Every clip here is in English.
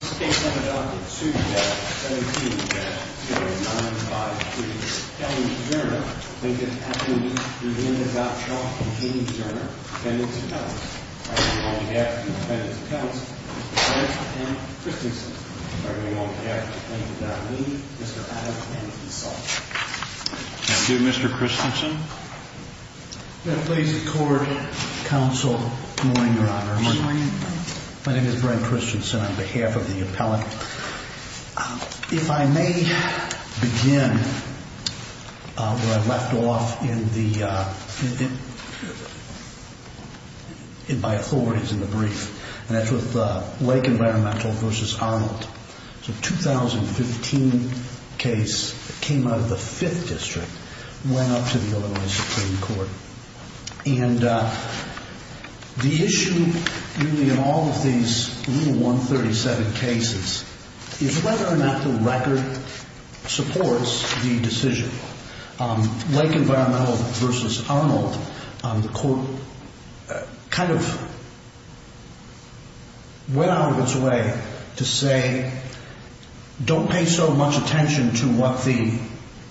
In this case, I have adopted suit no. 17-0953. Kelly v. Zuerner, Lincoln v. Gottschalk, and Hayden v. Zuerner, defendants and counts. I bring on behalf of the defendants and counts, Brent M. Christensen. I bring on behalf of the defendant nominee, Mr. Adam M. Esau. Thank you, Mr. Christensen. May it please the Court, Counsel, good morning, Your Honor. Good morning. My name is Brent Christensen on behalf of the appellant. If I may begin where I left off in my authorities in the brief, and that's with Lake Environmental v. Arnold. It's a 2015 case that came out of the Fifth District and went up to the Illinois Supreme Court. And the issue, really, in all of these Rule 137 cases is whether or not the record supports the decision. Lake Environmental v. Arnold, the Court kind of went out of its way to say, don't pay so much attention to what the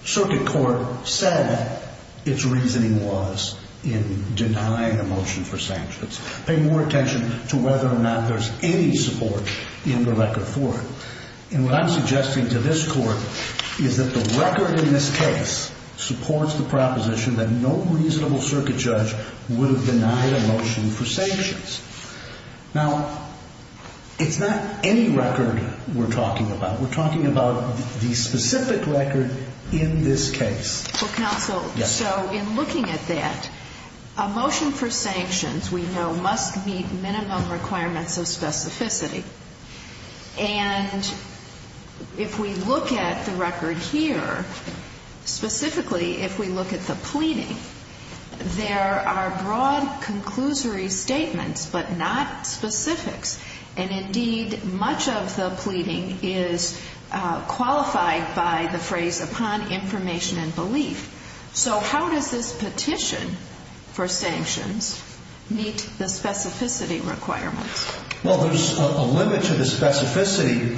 circuit court said its reasoning was in denying a motion for sanctions. Pay more attention to whether or not there's any support in the record for it. And what I'm suggesting to this Court is that the record in this case supports the proposition that no reasonable circuit judge would have denied a motion for sanctions. Now, it's not any record we're talking about. We're talking about the specific record in this case. Well, Counsel, so in looking at that, a motion for sanctions, we know, must meet minimum requirements of specificity. And if we look at the record here, specifically if we look at the pleading, there are broad conclusory statements but not specifics. And indeed, much of the pleading is qualified by the phrase upon information and belief. So how does this petition for sanctions meet the specificity requirements? Well, there's a limit to the specificity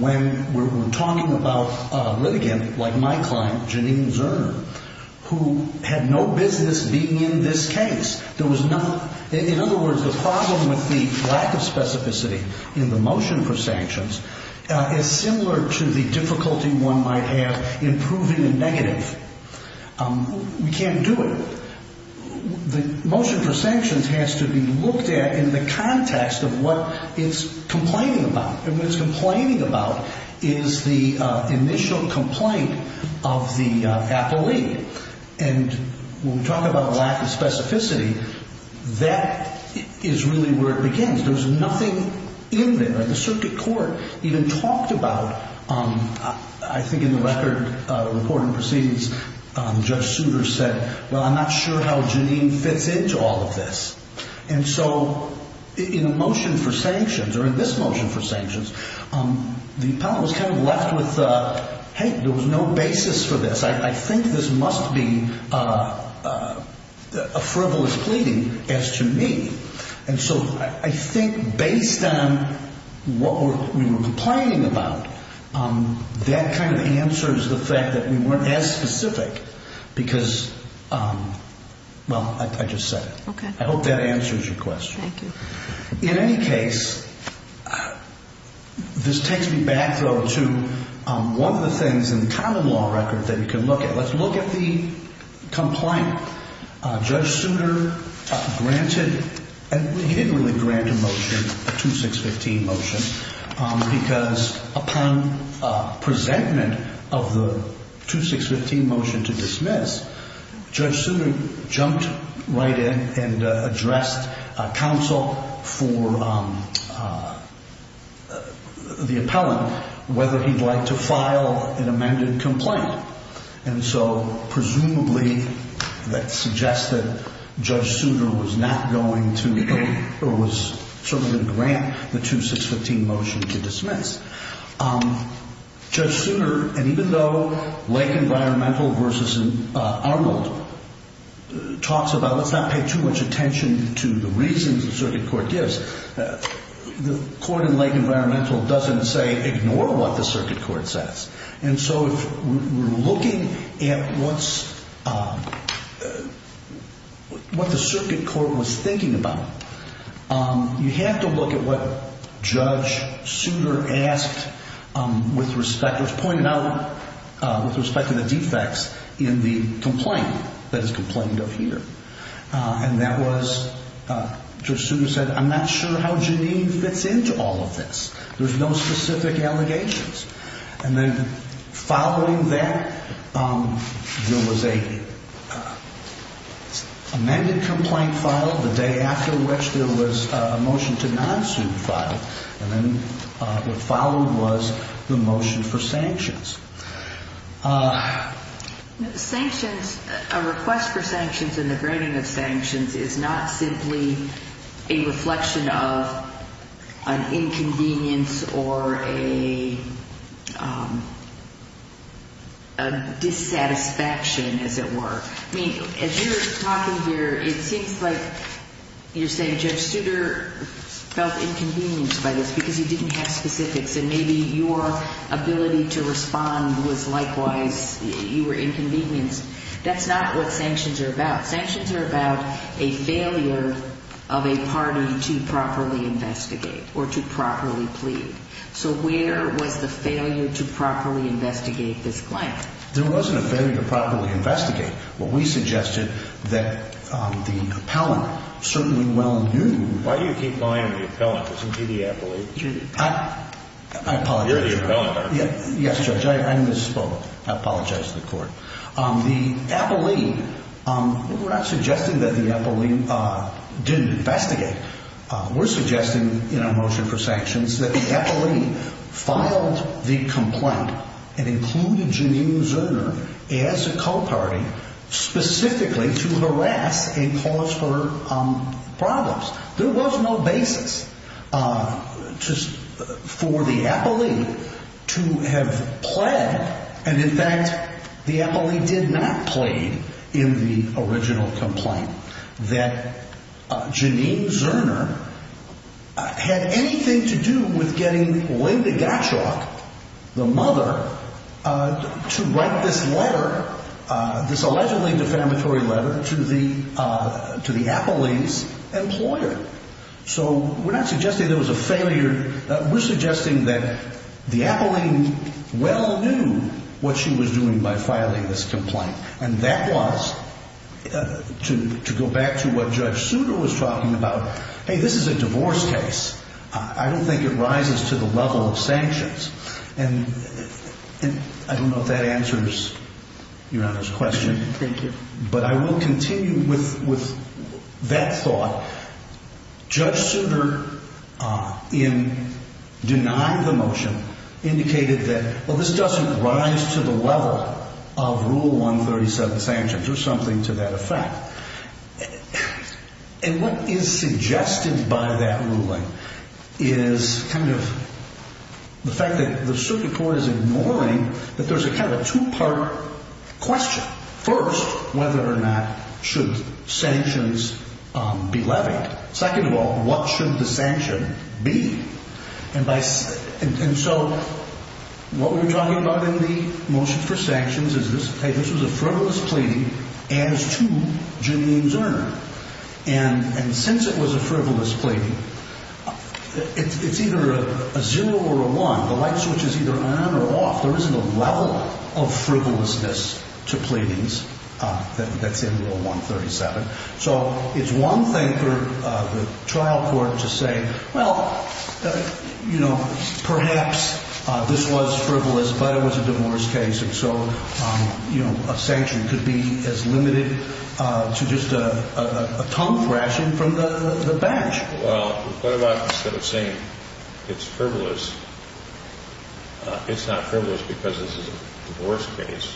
when we're talking about a litigant like my client, Janine Zerner, who had no business being in this case. In other words, the problem with the lack of specificity in the motion for sanctions is similar to the difficulty one might have in proving a negative. We can't do it. The motion for sanctions has to be looked at in the context of what it's complaining about. And what it's complaining about is the initial complaint of the appellee. And when we talk about a lack of specificity, that is really where it begins. There's nothing in there. The circuit court even talked about, I think in the record, report and proceedings, Judge Souter said, well, I'm not sure how Janine fits into all of this. And so in the motion for sanctions, or in this motion for sanctions, the appellant was kind of left with, hey, there was no basis for this. I think this must be a frivolous pleading as to me. And so I think based on what we were complaining about, that kind of answers the fact that we weren't as specific because, well, I just said it. I hope that answers your question. In any case, this takes me back, though, to one of the things in the common law record that you can look at. Let's look at the complaint. Judge Souter granted, he didn't really grant a motion, a 2615 motion, because upon presentment of the 2615 motion to dismiss, Judge Souter jumped right in and addressed counsel for the appellant, whether he'd like to file an amended complaint. And so presumably that suggested Judge Souter was not going to, or was certainly going to grant the 2615 motion to dismiss. Judge Souter, and even though Lake Environmental versus Arnold talks about, let's not pay too much attention to the reasons the circuit court gives, the court in Lake Environmental doesn't say ignore what the circuit court says. And so if we're looking at what the circuit court was thinking about, you have to look at what Judge Souter asked with respect, was pointed out with respect to the defects in the complaint that is complained of here. And that was, Judge Souter said, I'm not sure how Janine fits into all of this. There's no specific allegations. And then following that, there was an amended complaint filed, the day after which there was a motion to not sue filed. And then what followed was the motion for sanctions. Sanctions, a request for sanctions and the granting of sanctions, is not simply a reflection of an inconvenience or a dissatisfaction, as it were. I mean, as you're talking here, it seems like you're saying Judge Souter felt inconvenienced by this because he didn't have specifics. And maybe your ability to respond was likewise, you were inconvenienced. That's not what sanctions are about. Sanctions are about a failure of a party to properly investigate or to properly plead. So where was the failure to properly investigate this claim? There wasn't a failure to properly investigate. What we suggested that the appellant certainly well knew. Why do you keep buying the appellant? Isn't he the appellate? I apologize. You're the appellant. Yes, Judge. I misspoke. I apologize to the court. The appellate, we're not suggesting that the appellate didn't investigate. We're suggesting in our motion for sanctions that the appellate filed the complaint and included Janine Zerner as a co-party specifically to harass and cause her problems. There was no basis for the appellate to have pled. And, in fact, the appellate did not plead in the original complaint that Janine Zerner had anything to do with getting Linda Gottschalk, the mother, to write this letter, this allegedly defamatory letter to the appellate's employer. So we're not suggesting there was a failure. We're suggesting that the appellant well knew what she was doing by filing this complaint. And that was, to go back to what Judge Souter was talking about, hey, this is a divorce case. I don't think it rises to the level of sanctions. And I don't know if that answers Your Honor's question. Thank you. But I will continue with that thought. Judge Souter, in denying the motion, indicated that, well, this doesn't rise to the level of Rule 137 sanctions or something to that effect. And what is suggested by that ruling is kind of the fact that the circuit court is ignoring that there's a kind of a two-part question. First, whether or not should sanctions be levied. Second of all, what should the sanction be? And so what we were talking about in the motion for sanctions is this was a frivolous plea as to Janine Zerner. And since it was a frivolous plea, it's either a zero or a one. The light switch is either on or off. There isn't a level of frivolousness to pleadings that's in Rule 137. So it's one thing for the trial court to say, well, you know, perhaps this was frivolous, but it was a divorce case. And so, you know, a sanction could be as limited to just a tongue thrashing from the bench. Well, what about instead of saying it's frivolous, it's not frivolous because it's a divorce case,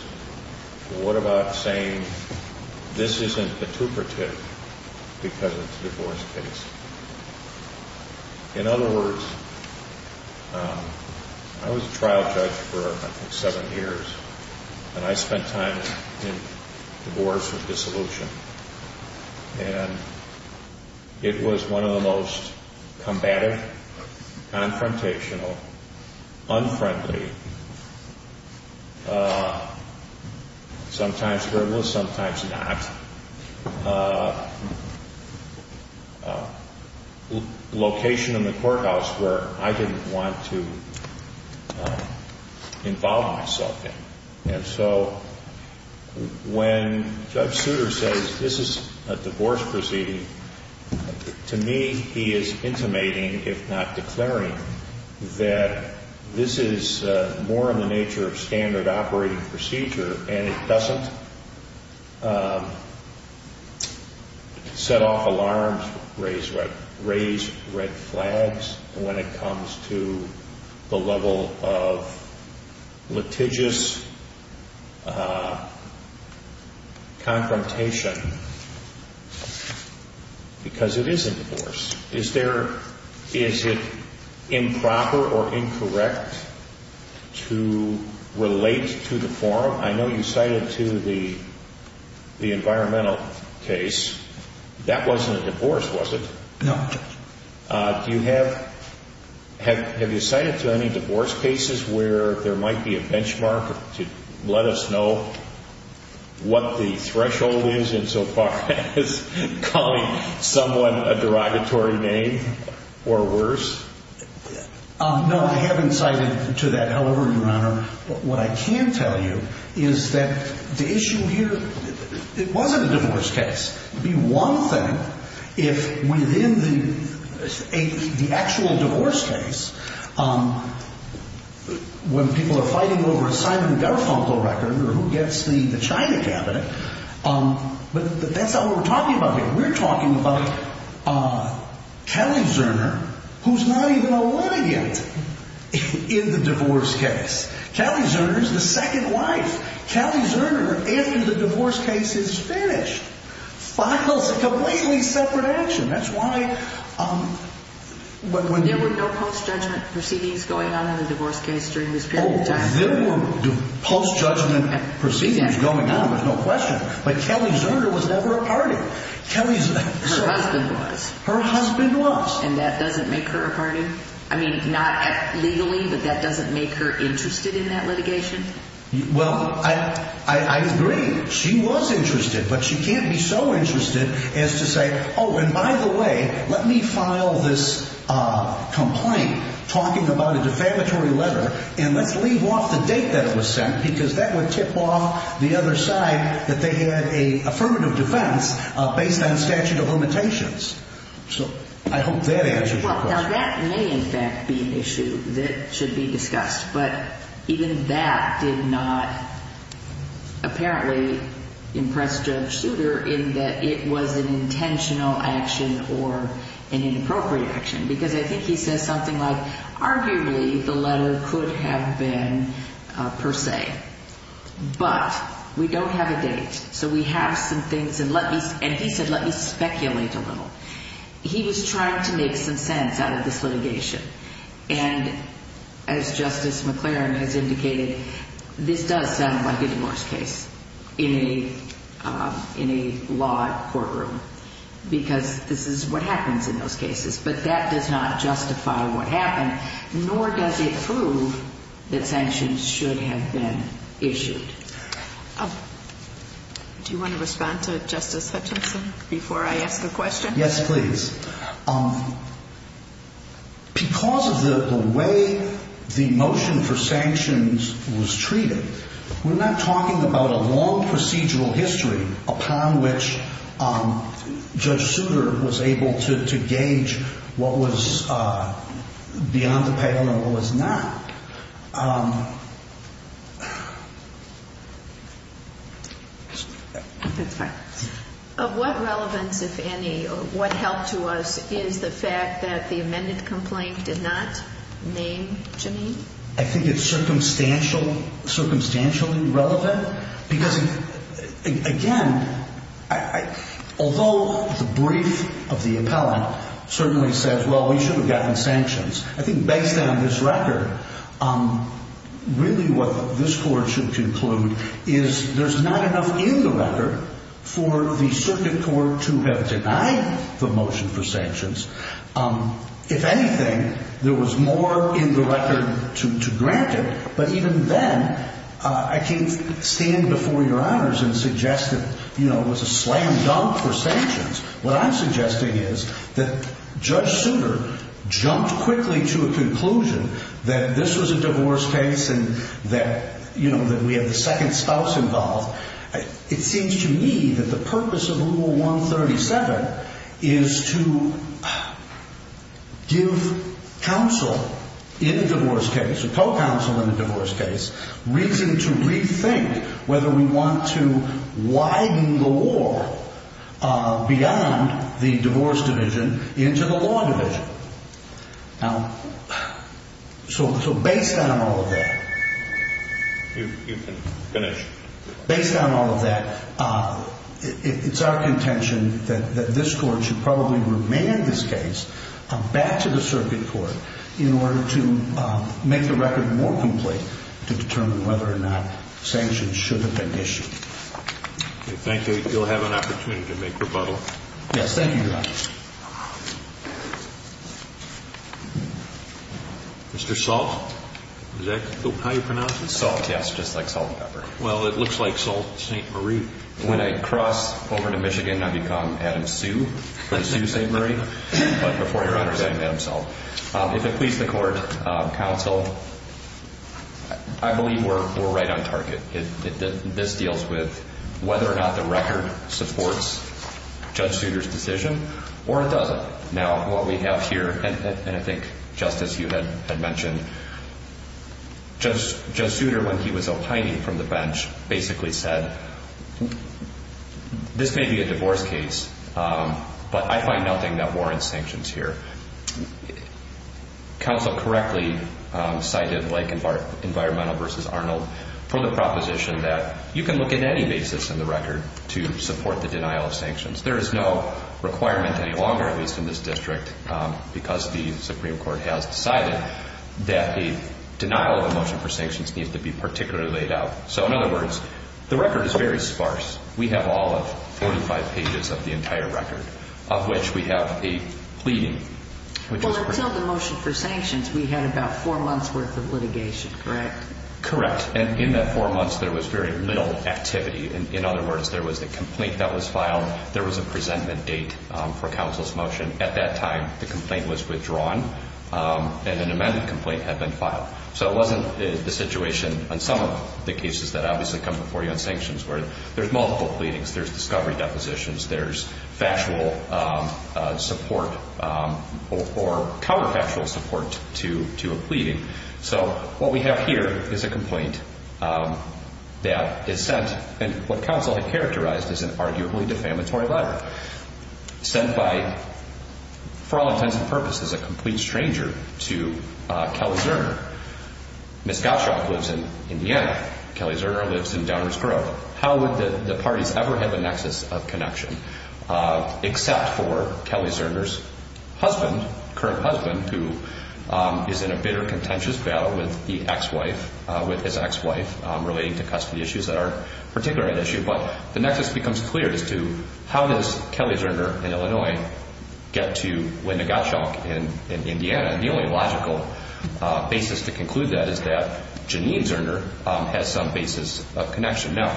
what about saying this isn't intuperative because it's a divorce case? In other words, I was a trial judge for, I think, seven years, and I spent time in divorce and dissolution. And it was one of the most combative, confrontational, unfriendly, sometimes frivolous, sometimes not, location in the courthouse where I didn't want to involve myself in. And so when Judge Souter says this is a divorce proceeding, to me, he is intimating, if not declaring, that this is more in the nature of standard operating procedure, and it doesn't set off alarms, raise red flags when it comes to the level of litigious confrontation, because it is a divorce. Is there, is it improper or incorrect to relate to the forum? I know you cited to the environmental case. That wasn't a divorce, was it? No. Do you have, have you cited to any divorce cases where there might be a benchmark to let us know what the threshold is in so far as calling someone a derogatory name or worse? No, I haven't cited to that. However, Your Honor, what I can tell you is that the issue here, it wasn't a divorce case. It would be one thing if within the actual divorce case, when people are fighting over a Simon Garfunkel record or who gets the China cabinet, but that's not what we're talking about here. We're talking about Kelly Zerner, who's not even a litigant in the divorce case. Kelly Zerner is the second wife. Kelly Zerner, after the divorce case is finished, files a completely separate action. That's why when you... There were no post-judgment proceedings going on in the divorce case during this period of time? Oh, there were post-judgment proceedings going on, there's no question, but Kelly Zerner was never a party. Her husband was. Her husband was. And that doesn't make her a party? I mean, not legally, but that doesn't make her interested in that litigation? Well, I agree. She was interested, but she can't be so interested as to say, oh, and by the way, let me file this complaint talking about a defamatory letter and let's leave off the date that it was sent because that would tip off the other side that they had an affirmative defense based on statute of limitations. So I hope that answers your question. Well, now that may in fact be an issue that should be discussed, but even that did not apparently impress Judge Souter in that it was an intentional action or an inappropriate action because I think he says something like, arguably the letter could have been per se, but we don't have a date, so we have some things, and he said, let me speculate a little. He was trying to make some sense out of this litigation, and as Justice McLaren has indicated, this does sound like a divorce case in a law courtroom because this is what happens in those cases, but that does not justify what happened, nor does it prove that sanctions should have been issued. Do you want to respond to Justice Hutchinson before I ask the question? Yes, please. Because of the way the motion for sanctions was treated, we're not talking about a long procedural history upon which Judge Souter was able to gauge what was beyond the pedal and what was not. That's fine. Of what relevance, if any, what helped to us is the fact that the amended complaint did not name Jameen? I think it's circumstantially relevant because, again, although the brief of the appellant certainly says, well, we should have gotten sanctions, I think based on this record, really what this Court should conclude is there's not enough in the record for the circuit court to have denied the motion for sanctions. If anything, there was more in the record to grant it, but even then I can't stand before Your Honors and suggest that it was a slam dunk for sanctions. What I'm suggesting is that Judge Souter jumped quickly to a conclusion that this was a divorce case and that we had the second spouse involved. It seems to me that the purpose of Rule 137 is to give counsel in a divorce case, a co-counsel in a divorce case, reason to rethink whether we want to widen the war beyond the divorce division into the law division. Now, so based on all of that. You can finish. Based on all of that, it's our contention that this Court should probably remand this case back to the circuit court in order to make the record more complete to determine whether or not sanctions should have been issued. Okay. Thank you. You'll have an opportunity to make rebuttal. Yes. Thank you, Your Honor. Mr. Salt, is that how you pronounce it? Salt, yes, just like salt and pepper. Well, it looks like Salt St. Marie. When I cross over to Michigan, I become Adam Sue for the Sue St. Marie. But before Your Honor, I'm Adam Salt. If it pleases the Court, counsel, I believe we're right on target. This deals with whether or not the record supports Judge Souter's decision or it doesn't. Now, what we have here, and I think, Justice, you had mentioned, Judge Souter, when he was opining from the bench, basically said, this may be a divorce case, but I find nothing that warrants sanctions here. Counsel correctly cited like Environmental v. Arnold for the proposition that you can look at any basis in the record to support the denial of sanctions. There is no requirement any longer, at least in this district, because the Supreme Court has decided that the denial of a motion for sanctions needs to be particularly laid out. So, in other words, the record is very sparse. We have all of 45 pages of the entire record, of which we have a pleading. Well, until the motion for sanctions, we had about four months' worth of litigation, correct? Correct, and in that four months, there was very little activity. In other words, there was a complaint that was filed. There was a presentment date for counsel's motion. At that time, the complaint was withdrawn, and an amendment complaint had been filed. So it wasn't the situation on some of the cases that obviously come before you on sanctions, where there's multiple pleadings, there's discovery depositions, there's factual support or counterfactual support to a pleading. So what we have here is a complaint that is sent in what counsel had characterized as an arguably defamatory letter, sent by, for all intents and purposes, a complete stranger to Kelly Zerner. Ms. Gottschalk lives in Indiana. Kelly Zerner lives in Downers Grove. How would the parties ever have a nexus of connection, except for Kelly Zerner's husband, current husband, who is in a bitter, contentious battle with the ex-wife, with his ex-wife, relating to custody issues that are particularly an issue? But the nexus becomes clear as to how does Kelly Zerner in Illinois get to Linda Gottschalk in Indiana? And the only logical basis to conclude that is that Janine Zerner has some basis of connection. Now,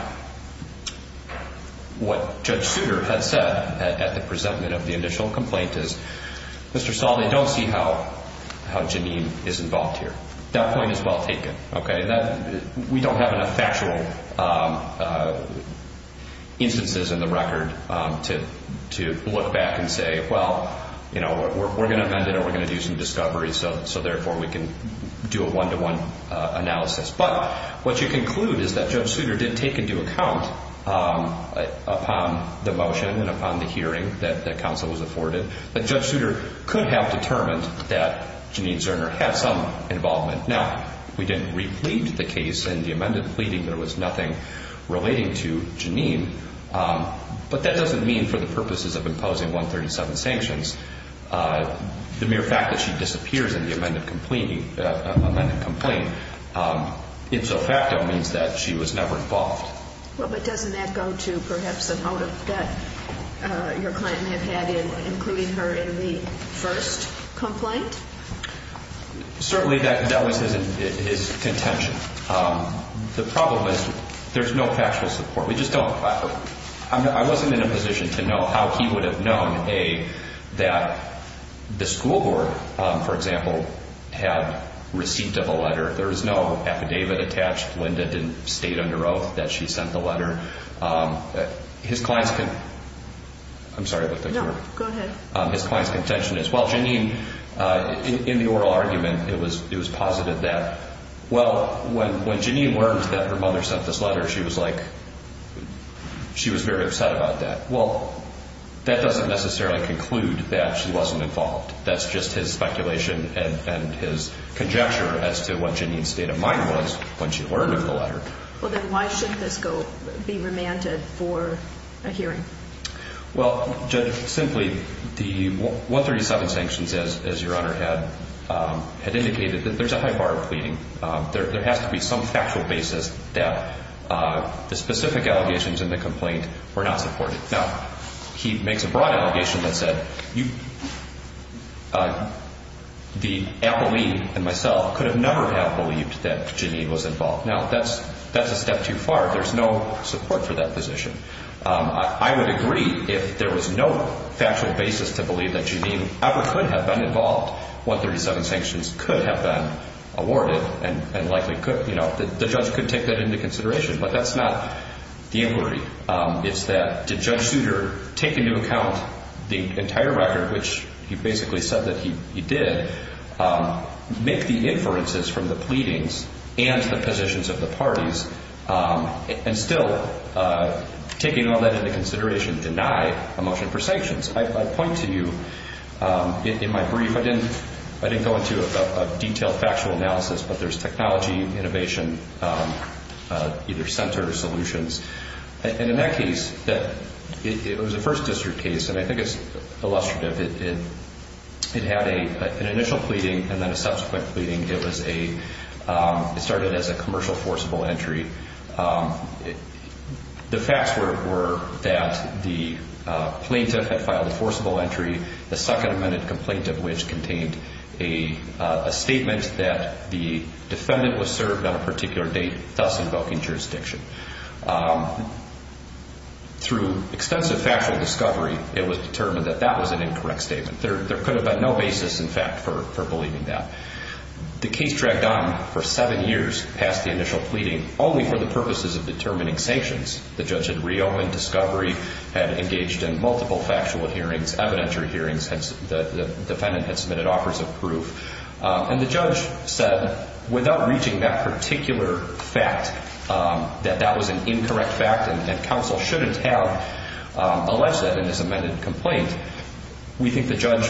what Judge Souter had said at the presentment of the initial complaint is, Mr. Saul, they don't see how Janine is involved here. That point is well taken. We don't have enough factual instances in the record to look back and say, well, we're going to amend it or we're going to do some discovery, so therefore we can do a one-to-one analysis. But what you conclude is that Judge Souter did take into account upon the motion and upon the hearing that counsel was afforded that Judge Souter could have determined that Janine Zerner had some involvement. Now, we didn't replete the case in the amended pleading. There was nothing relating to Janine. But that doesn't mean for the purposes of imposing 137 sanctions. The mere fact that she disappears in the amended complaint insofacto means that she was never involved. Well, but doesn't that go to perhaps a motive that your client may have had in including her in the first complaint? Certainly that was his contention. The problem is there's no factual support. We just don't collaborate. I wasn't in a position to know how he would have known, A, that the school board, for example, had received a letter. There was no affidavit attached. Linda didn't state under oath that she sent the letter. His client's contention is, well, Janine, in the oral argument, it was positive that, well, when Janine learned that her mother sent this letter, she was like, she was very upset about that. Well, that doesn't necessarily conclude that she wasn't involved. That's just his speculation and his conjecture as to what Janine's state of mind was when she learned of the letter. Well, then why should this be remanded for a hearing? Well, Judge, simply, the 137 sanctions, as your Honor had indicated, there's a high bar of pleading. There has to be some factual basis that the specific allegations in the complaint were not supported. Now, he makes a broad allegation that said the appellee and myself could have never have believed that Janine was involved. Now, that's a step too far. There's no support for that position. I would agree if there was no factual basis to believe that Janine ever could have been involved. 137 sanctions could have been awarded and likely could, you know, the judge could take that into consideration. But that's not the inquiry. It's that did Judge Souter take into account the entire record, which he basically said that he did, make the inferences from the pleadings and the positions of the parties, and still taking all that into consideration, deny a motion for sanctions? I point to you in my brief. I didn't go into a detailed factual analysis, but there's technology, innovation, either centers, solutions. And in that case, it was a First District case, and I think it's illustrative. It had an initial pleading and then a subsequent pleading. It started as a commercial forcible entry. The facts were that the plaintiff had filed a forcible entry, the second amended complaint of which contained a statement that the defendant was served on a particular date, thus invoking jurisdiction. Through extensive factual discovery, it was determined that that was an incorrect statement. There could have been no basis, in fact, for believing that. The case dragged on for seven years past the initial pleading, only for the purposes of determining sanctions. The judge had reopened discovery, had engaged in multiple factual hearings, evidentiary hearings. The defendant had submitted offers of proof. And the judge said, without reaching that particular fact, that that was an incorrect fact and counsel shouldn't have alleged that in his amended complaint. We think the judge,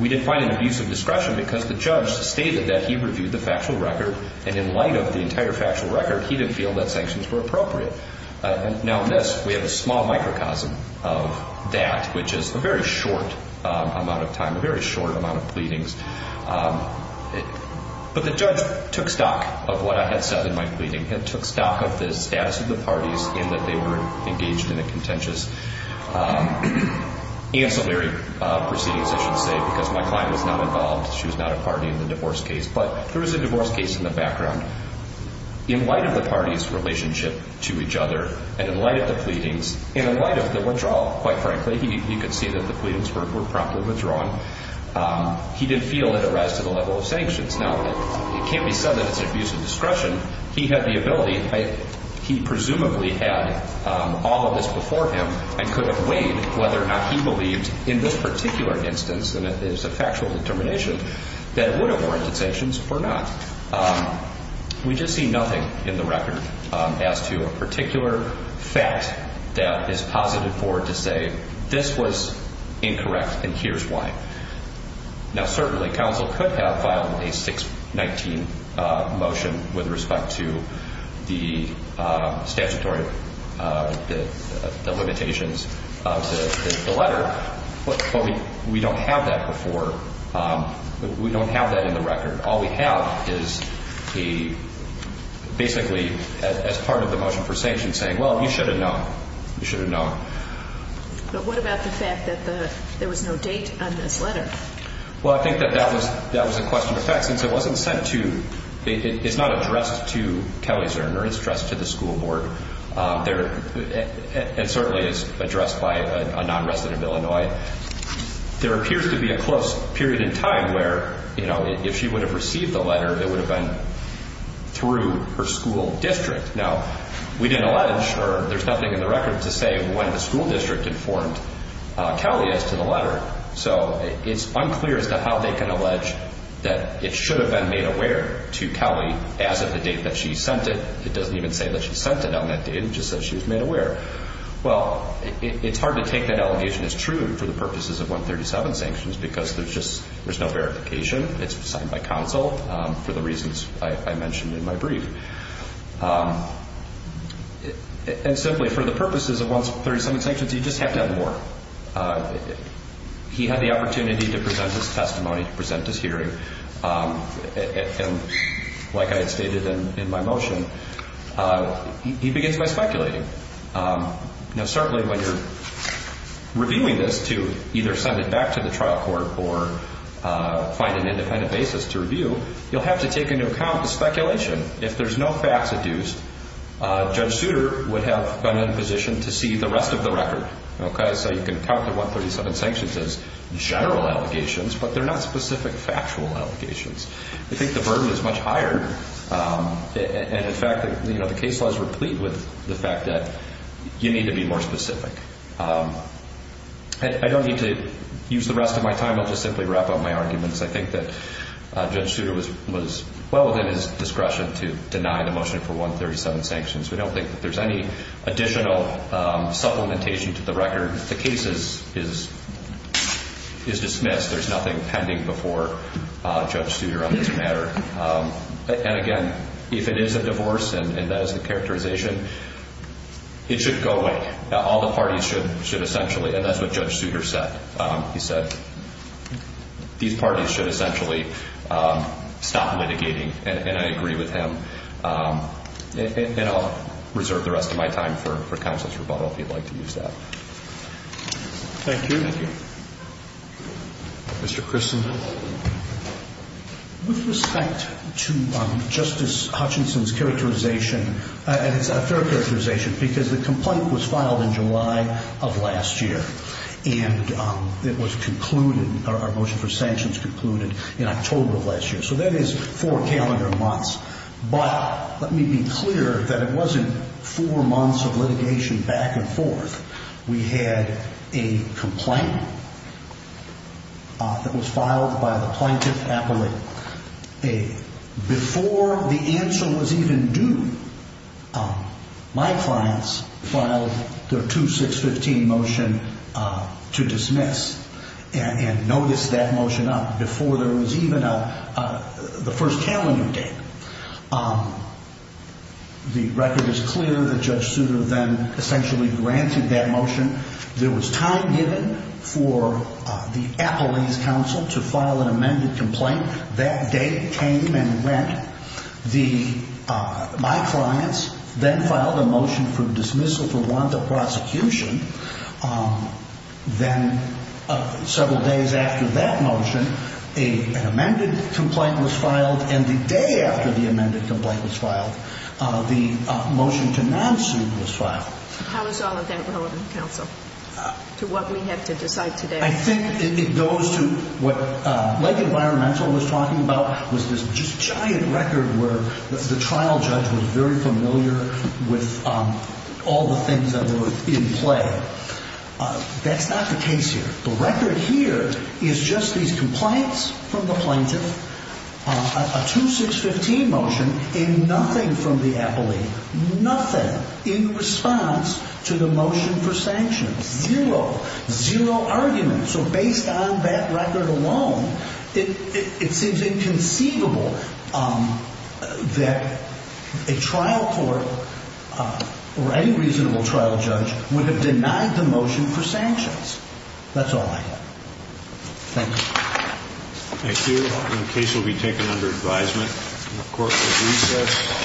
we didn't find an abuse of discretion because the judge stated that he reviewed the factual record and in light of the entire factual record, he didn't feel that sanctions were appropriate. Now this, we have a small microcosm of that, which is a very short amount of time, a very short amount of pleadings. But the judge took stock of what I had said in my pleading. He took stock of the status of the parties and that they were engaged in a contentious ancillary proceedings, I should say, because my client was not involved. She was not a party in the divorce case. But there was a divorce case in the background. In light of the parties' relationship to each other and in light of the pleadings, and in light of the withdrawal, quite frankly, you can see that the pleadings were promptly withdrawn, he didn't feel that it raised to the level of sanctions. Now it can't be said that it's an abuse of discretion. He had the ability, he presumably had all of this before him and could have weighed whether or not he believed in this particular instance, and it is a factual determination, that it would have warranted sanctions or not. We just see nothing in the record as to a particular fact that is positive for it to say, this was incorrect and here's why. Now certainly counsel could have filed a 619 motion with respect to the statutory limitations of the letter, but we don't have that before. We don't have that in the record. All we have is basically as part of the motion for sanctions saying, well, you should have known. You should have known. But what about the fact that there was no date on this letter? Well, I think that that was a question of fact. Since it wasn't sent to, it's not addressed to Kelly Zirner, it's addressed to the school board, and certainly is addressed by a non-resident of Illinois. There appears to be a close period in time where, you know, if she would have received the letter, it would have been through her school district. Now, we didn't allege or there's nothing in the record to say when the school district informed Kelly as to the letter. So it's unclear as to how they can allege that it should have been made aware to Kelly as of the date that she sent it. It doesn't even say that she sent it on that date. It just says she was made aware. Well, it's hard to take that allegation as true for the purposes of 137 sanctions because there's just no verification. It's signed by counsel for the reasons I mentioned in my brief. And simply for the purposes of 137 sanctions, you just have to have more. He had the opportunity to present his testimony, to present his hearing. And like I had stated in my motion, he begins by speculating. Now, certainly when you're reviewing this to either send it back to the trial court or find an independent basis to review, you'll have to take into account the speculation. If there's no facts adduced, Judge Souter would have been in a position to see the rest of the record. So you can count the 137 sanctions as general allegations, but they're not specific factual allegations. I think the burden is much higher. And, in fact, the case law is replete with the fact that you need to be more specific. I don't need to use the rest of my time. I'll just simply wrap up my arguments. I think that Judge Souter was well within his discretion to deny the motion for 137 sanctions. We don't think that there's any additional supplementation to the record. The case is dismissed. There's nothing pending before Judge Souter on this matter. And, again, if it is a divorce and that is the characterization, it should go away. All the parties should essentially, and that's what Judge Souter said. He said these parties should essentially stop litigating, and I agree with him. And I'll reserve the rest of my time for counsel's rebuttal if you'd like to use that. Thank you. Thank you. Mr. Christensen. With respect to Justice Hutchinson's characterization, and it's a fair characterization because the complaint was filed in July of last year, and it was concluded, our motion for sanctions concluded in October of last year, so that is four calendar months. But let me be clear that it wasn't four months of litigation back and forth. We had a complaint that was filed by the plaintiff appellate. Before the answer was even due, my clients filed their 2615 motion to dismiss and notice that motion up before there was even the first calendar date. The record is clear that Judge Souter then essentially granted that motion. There was time given for the appellate's counsel to file an amended complaint. That date came and went. My clients then filed a motion for dismissal to warrant the prosecution. Then several days after that motion, an amended complaint was filed, and the day after the amended complaint was filed, the motion to non-suit was filed. How is all of that relevant, counsel, to what we have to decide today? I think it goes to what Lake Environmental was talking about, was this just giant record where the trial judge was very familiar with all the things that were in play. That's not the case here. The record here is just these complaints from the plaintiff, a 2615 motion, and nothing from the appellate, nothing in response to the motion for sanction. Zero, zero argument. So based on that record alone, it seems inconceivable that a trial court or any reasonable trial judge would have denied the motion for sanctions. That's all I have. Thank you. Thank you. The case will be taken under advisement. The court will recess.